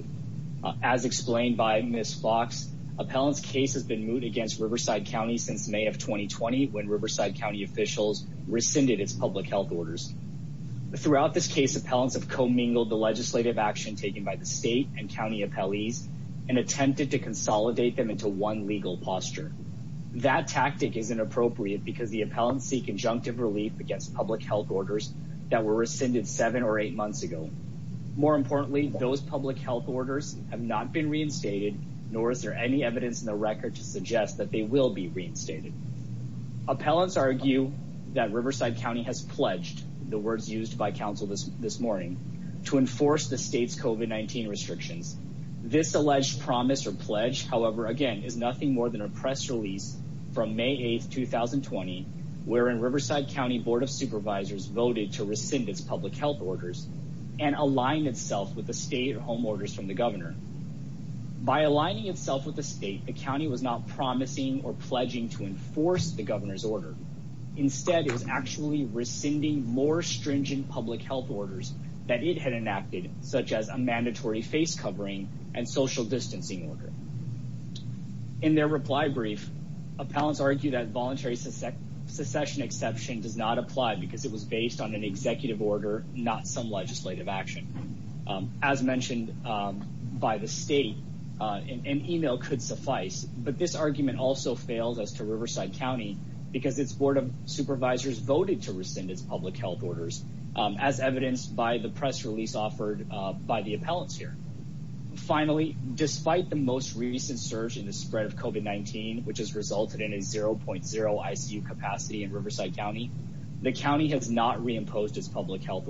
as explained by miss fox appellants case has been moved against riverside county since may of 2020 when riverside county officials rescinded its public health orders throughout this case appellants have commingled the legislative action taken by the state and county appellees and attempted to consolidate them into one legal posture that tactic is inappropriate because the appellants seek injunctive relief against public health orders that were rescinded seven or eight months ago more importantly those public health orders have not been reinstated nor is there any evidence in the record to suggest that they will be reinstated appellants argue that riverside county has pledged the words used by council this this morning to enforce the state's covid-19 restrictions this alleged promise or pledge however again is nothing more than a press release from may 8th 2020 wherein riverside county board of supervisors voted to rescind its public health orders and align itself with the state home orders from the governor by aligning itself with the state the county was not promising or pledging to enforce the governor's order instead it was actually rescinding more stringent public health orders that it had enacted such as a mandatory face covering and social distancing order in their reply brief appellants argue that voluntary succession exception does not apply because it was based on an executive order not some legislative action as mentioned by the state an email could suffice but this argument also fails as to riverside county because its board of supervisors voted to rescind its public health orders as evidenced by the press release offered by the appellants here finally despite the most recent surge in the spread of covid19 which has resulted in a 0.0 icu capacity in riverside county the county has not reimposed its public health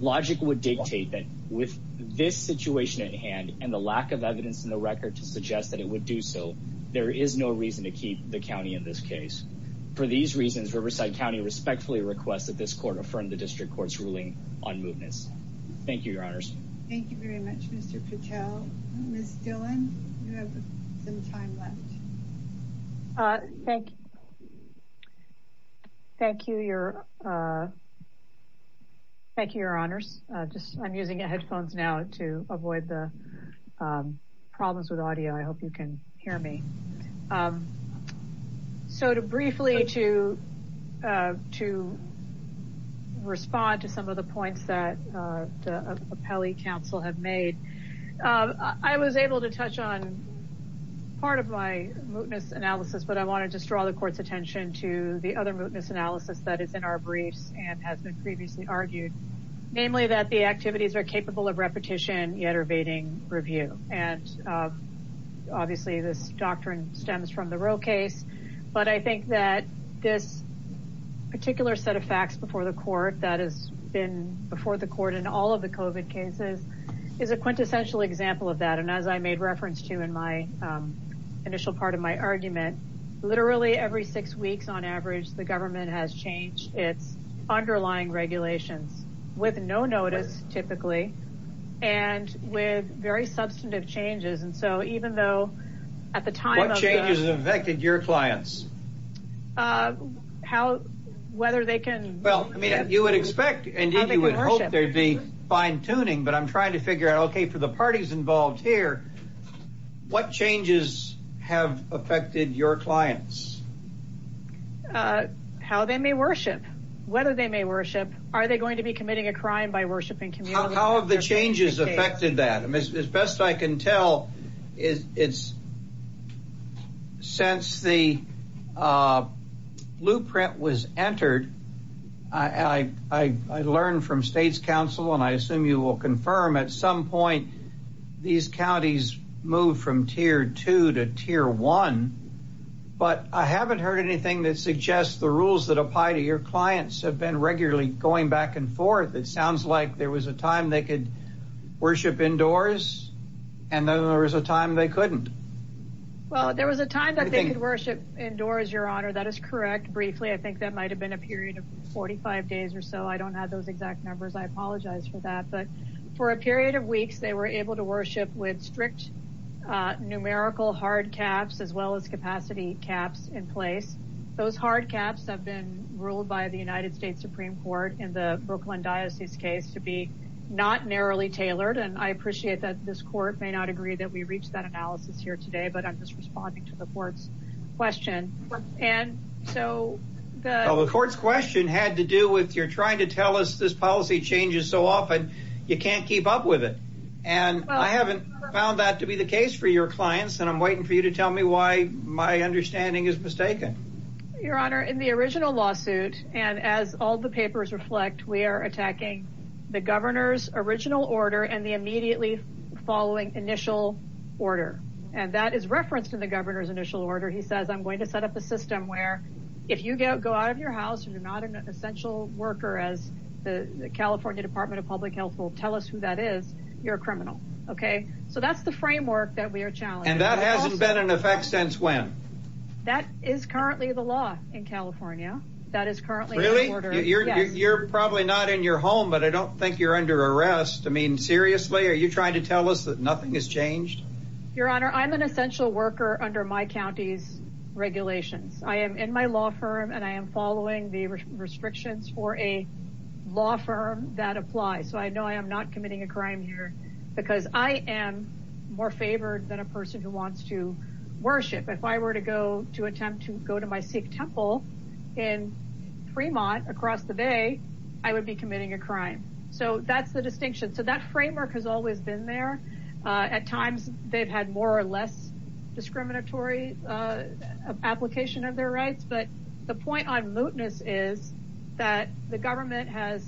logic would dictate that with this situation at hand and the lack of evidence in the record to suggest that it would do so there is no reason to keep the county in this case for these reasons riverside county respectfully requests that this court affirm the district court's ruling on mootness thank you your honors thank you very much mr patel miss dylan you have some time left uh thank you thank you your uh thank you your honors uh just i'm using headphones now to avoid the um problems with audio i hope you can hear me um so to briefly to uh to respond to some of the points that uh the appellee council have made um i was able to touch on part of my mootness analysis but i wanted to draw the court's attention to the other mootness analysis that is in our briefs and has been previously argued namely that the activities are capable of repetition yet evading review and uh obviously this doctrine stems from the real case but i think that this particular set of facts before the court that has been before the court in all of the covid cases is a quintessential example of that and as i made reference to in my initial part of my argument literally every six weeks on average the government has changed its underlying regulations with no notice typically and with very substantive changes and so even though at the time what changes affected your clients uh how whether they can well i mean you would expect and you would hope there'd be fine tuning but i'm trying to figure out okay for the parties involved here what changes have affected your clients uh how they may worship whether they may worship are they going to be committing a crime by worshiping community how have the changes affected that i as best i can tell is it's since the uh blueprint was entered i i i learned from state's council and i assume you will confirm at some point these counties move from tier two to tier one but i haven't heard anything that suggests the rules that apply to your clients have been regularly going back and forth it sounds like there was a time they could worship indoors and then there was a time they couldn't well there was a time that they could worship indoors your honor that is correct briefly i think that might have been a period of 45 days or so i don't have those exact numbers i apologize for that but for a period of weeks they were able to worship with strict uh numerical hard caps as well as capacity caps in place those hard caps have been ruled by the united states supreme court in the brooklyn diocese case to be not narrowly tailored and i appreciate that this court may not agree that we reached that analysis here today but i'm just responding to the court's question and so the court's question had to do with you're trying to tell us this policy changes so often you can't keep up with it and i haven't found that to be the case for your clients and i'm waiting for you to tell me why my understanding is mistaken your honor in the original lawsuit and as all the papers reflect we are attacking the governor's original order and the immediately following initial order and that is referenced in the governor's initial order he says i'm going to set up a system where if you go go out of your house and you're not an essential worker as the california department of public health will tell us who that is you're a criminal okay so that's the framework that we are challenged and is currently the law in california that is currently really you're you're probably not in your home but i don't think you're under arrest i mean seriously are you trying to tell us that nothing has changed your honor i'm an essential worker under my county's regulations i am in my law firm and i am following the restrictions for a law firm that applies so i know i am not committing a crime here because i am more favored than a person who wants to attempt to go to my sikh temple in fremont across the bay i would be committing a crime so that's the distinction so that framework has always been there at times they've had more or less discriminatory uh application of their rights but the point on mootness is that the government has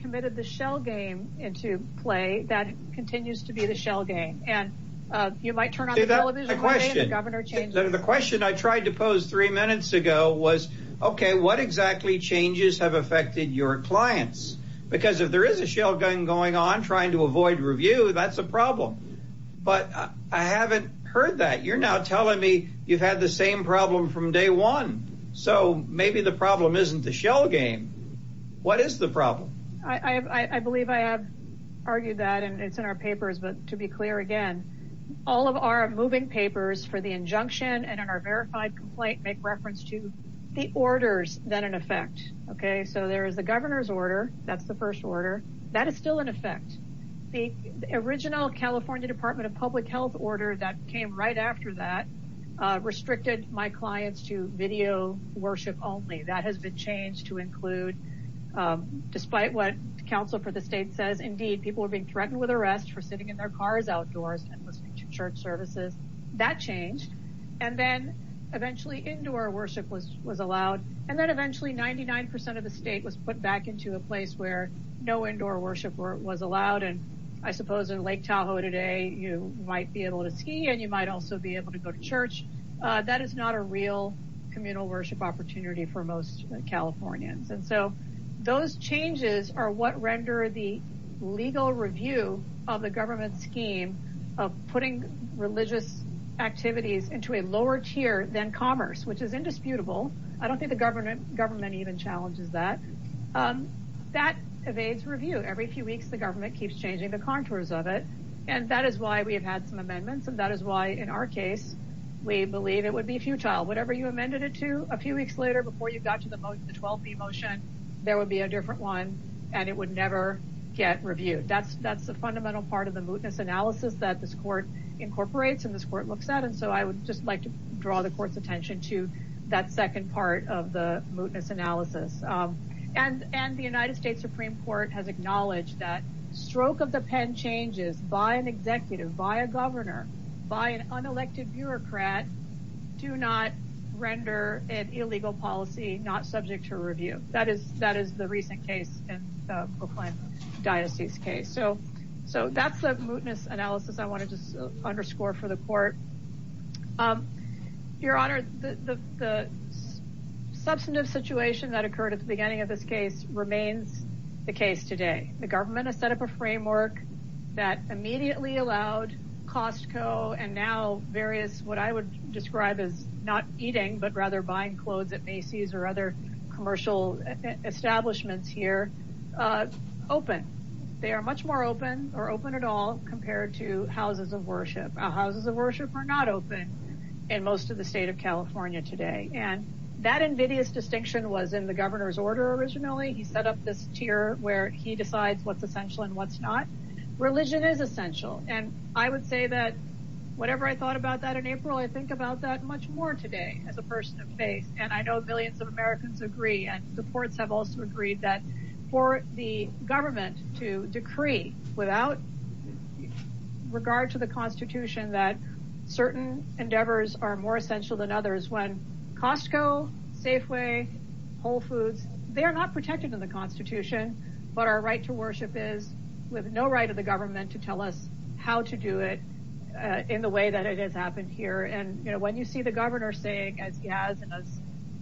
committed the shell game into play that continues to be the shell game and uh you might question the question i tried to pose three minutes ago was okay what exactly changes have affected your clients because if there is a shell gun going on trying to avoid review that's a problem but i haven't heard that you're now telling me you've had the same problem from day one so maybe the problem isn't the shell game what is the problem i i i believe i have argued that and it's to be clear again all of our moving papers for the injunction and in our verified complaint make reference to the orders that in effect okay so there is the governor's order that's the first order that is still in effect the original california department of public health order that came right after that uh restricted my clients to video worship only that has been changed to include um despite what counsel for the state says indeed people are being threatened with arrest for sitting in their cars outdoors and listening to church services that changed and then eventually indoor worship was was allowed and then eventually 99 of the state was put back into a place where no indoor worship was allowed and i suppose in lake tahoe today you might be able to ski and you might also be able to go to church uh that is not a real communal worship opportunity for most californians and so those changes are what render the legal review of the government scheme of putting religious activities into a lower tier than commerce which is indisputable i don't think the government government even challenges that um that evades review every few weeks the government keeps changing the contours of it and that is why we have had some amendments and that is why in our case we believe it would be futile whatever you amended it to a few weeks later before you got to the 12b motion there would be a different one and it would never get reviewed that's that's the fundamental part of the mootness analysis that this court incorporates and this court looks at and so i would just like to draw the court's attention to that second part of the mootness analysis um and and the united states supreme court has acknowledged that stroke of the pen changes by an executive by a governor by an unelected bureaucrat do not render an illegal policy not subject to review that is that is the recent case in the proclaimed diocese case so so that's the mootness analysis i want to just underscore for the court um your honor the the substantive situation that occurred at the beginning of this case remains the case today the government has set up a framework that immediately allowed costco and now various what i would describe as not eating but rather buying clothes at macy's or other commercial establishments here uh open they are much more open or open at all compared to houses of worship houses of worship are not open in most of the state of california today and that invidious distinction was in the governor's order originally he set up this tier where he decides what's essential and what's not religion is essential and i would say that whatever i thought about that in april i think about that much more today as a person of faith and i know millions of americans agree and supports have also agreed that for the government to decree without regard to the constitution that certain endeavors are more essential than others when costco safeway whole foods they are not protected in the constitution but our right to worship is with no right of the government to tell us how to do it uh in the way that it has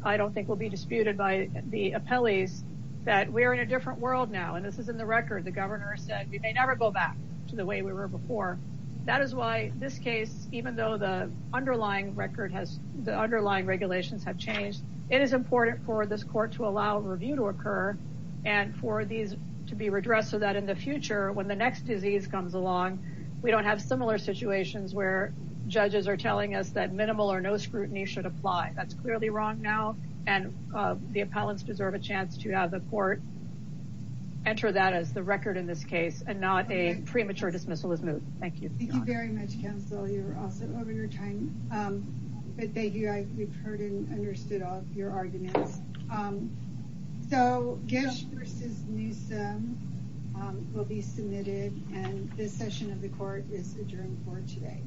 i don't think will be disputed by the appellees that we are in a different world now and this is in the record the governor said we may never go back to the way we were before that is why this case even though the underlying record has the underlying regulations have changed it is important for this court to allow review to occur and for these to be redressed so that in the future when the next disease comes along we don't have similar situations where that's clearly wrong now and the appellants deserve a chance to have the court enter that as the record in this case and not a premature dismissal is moved thank you thank you very much counsel you're awesome over your time um but thank you i we've heard and understood all of your arguments um so gish versus newsum will be submitted and this session of the court is adjourned for today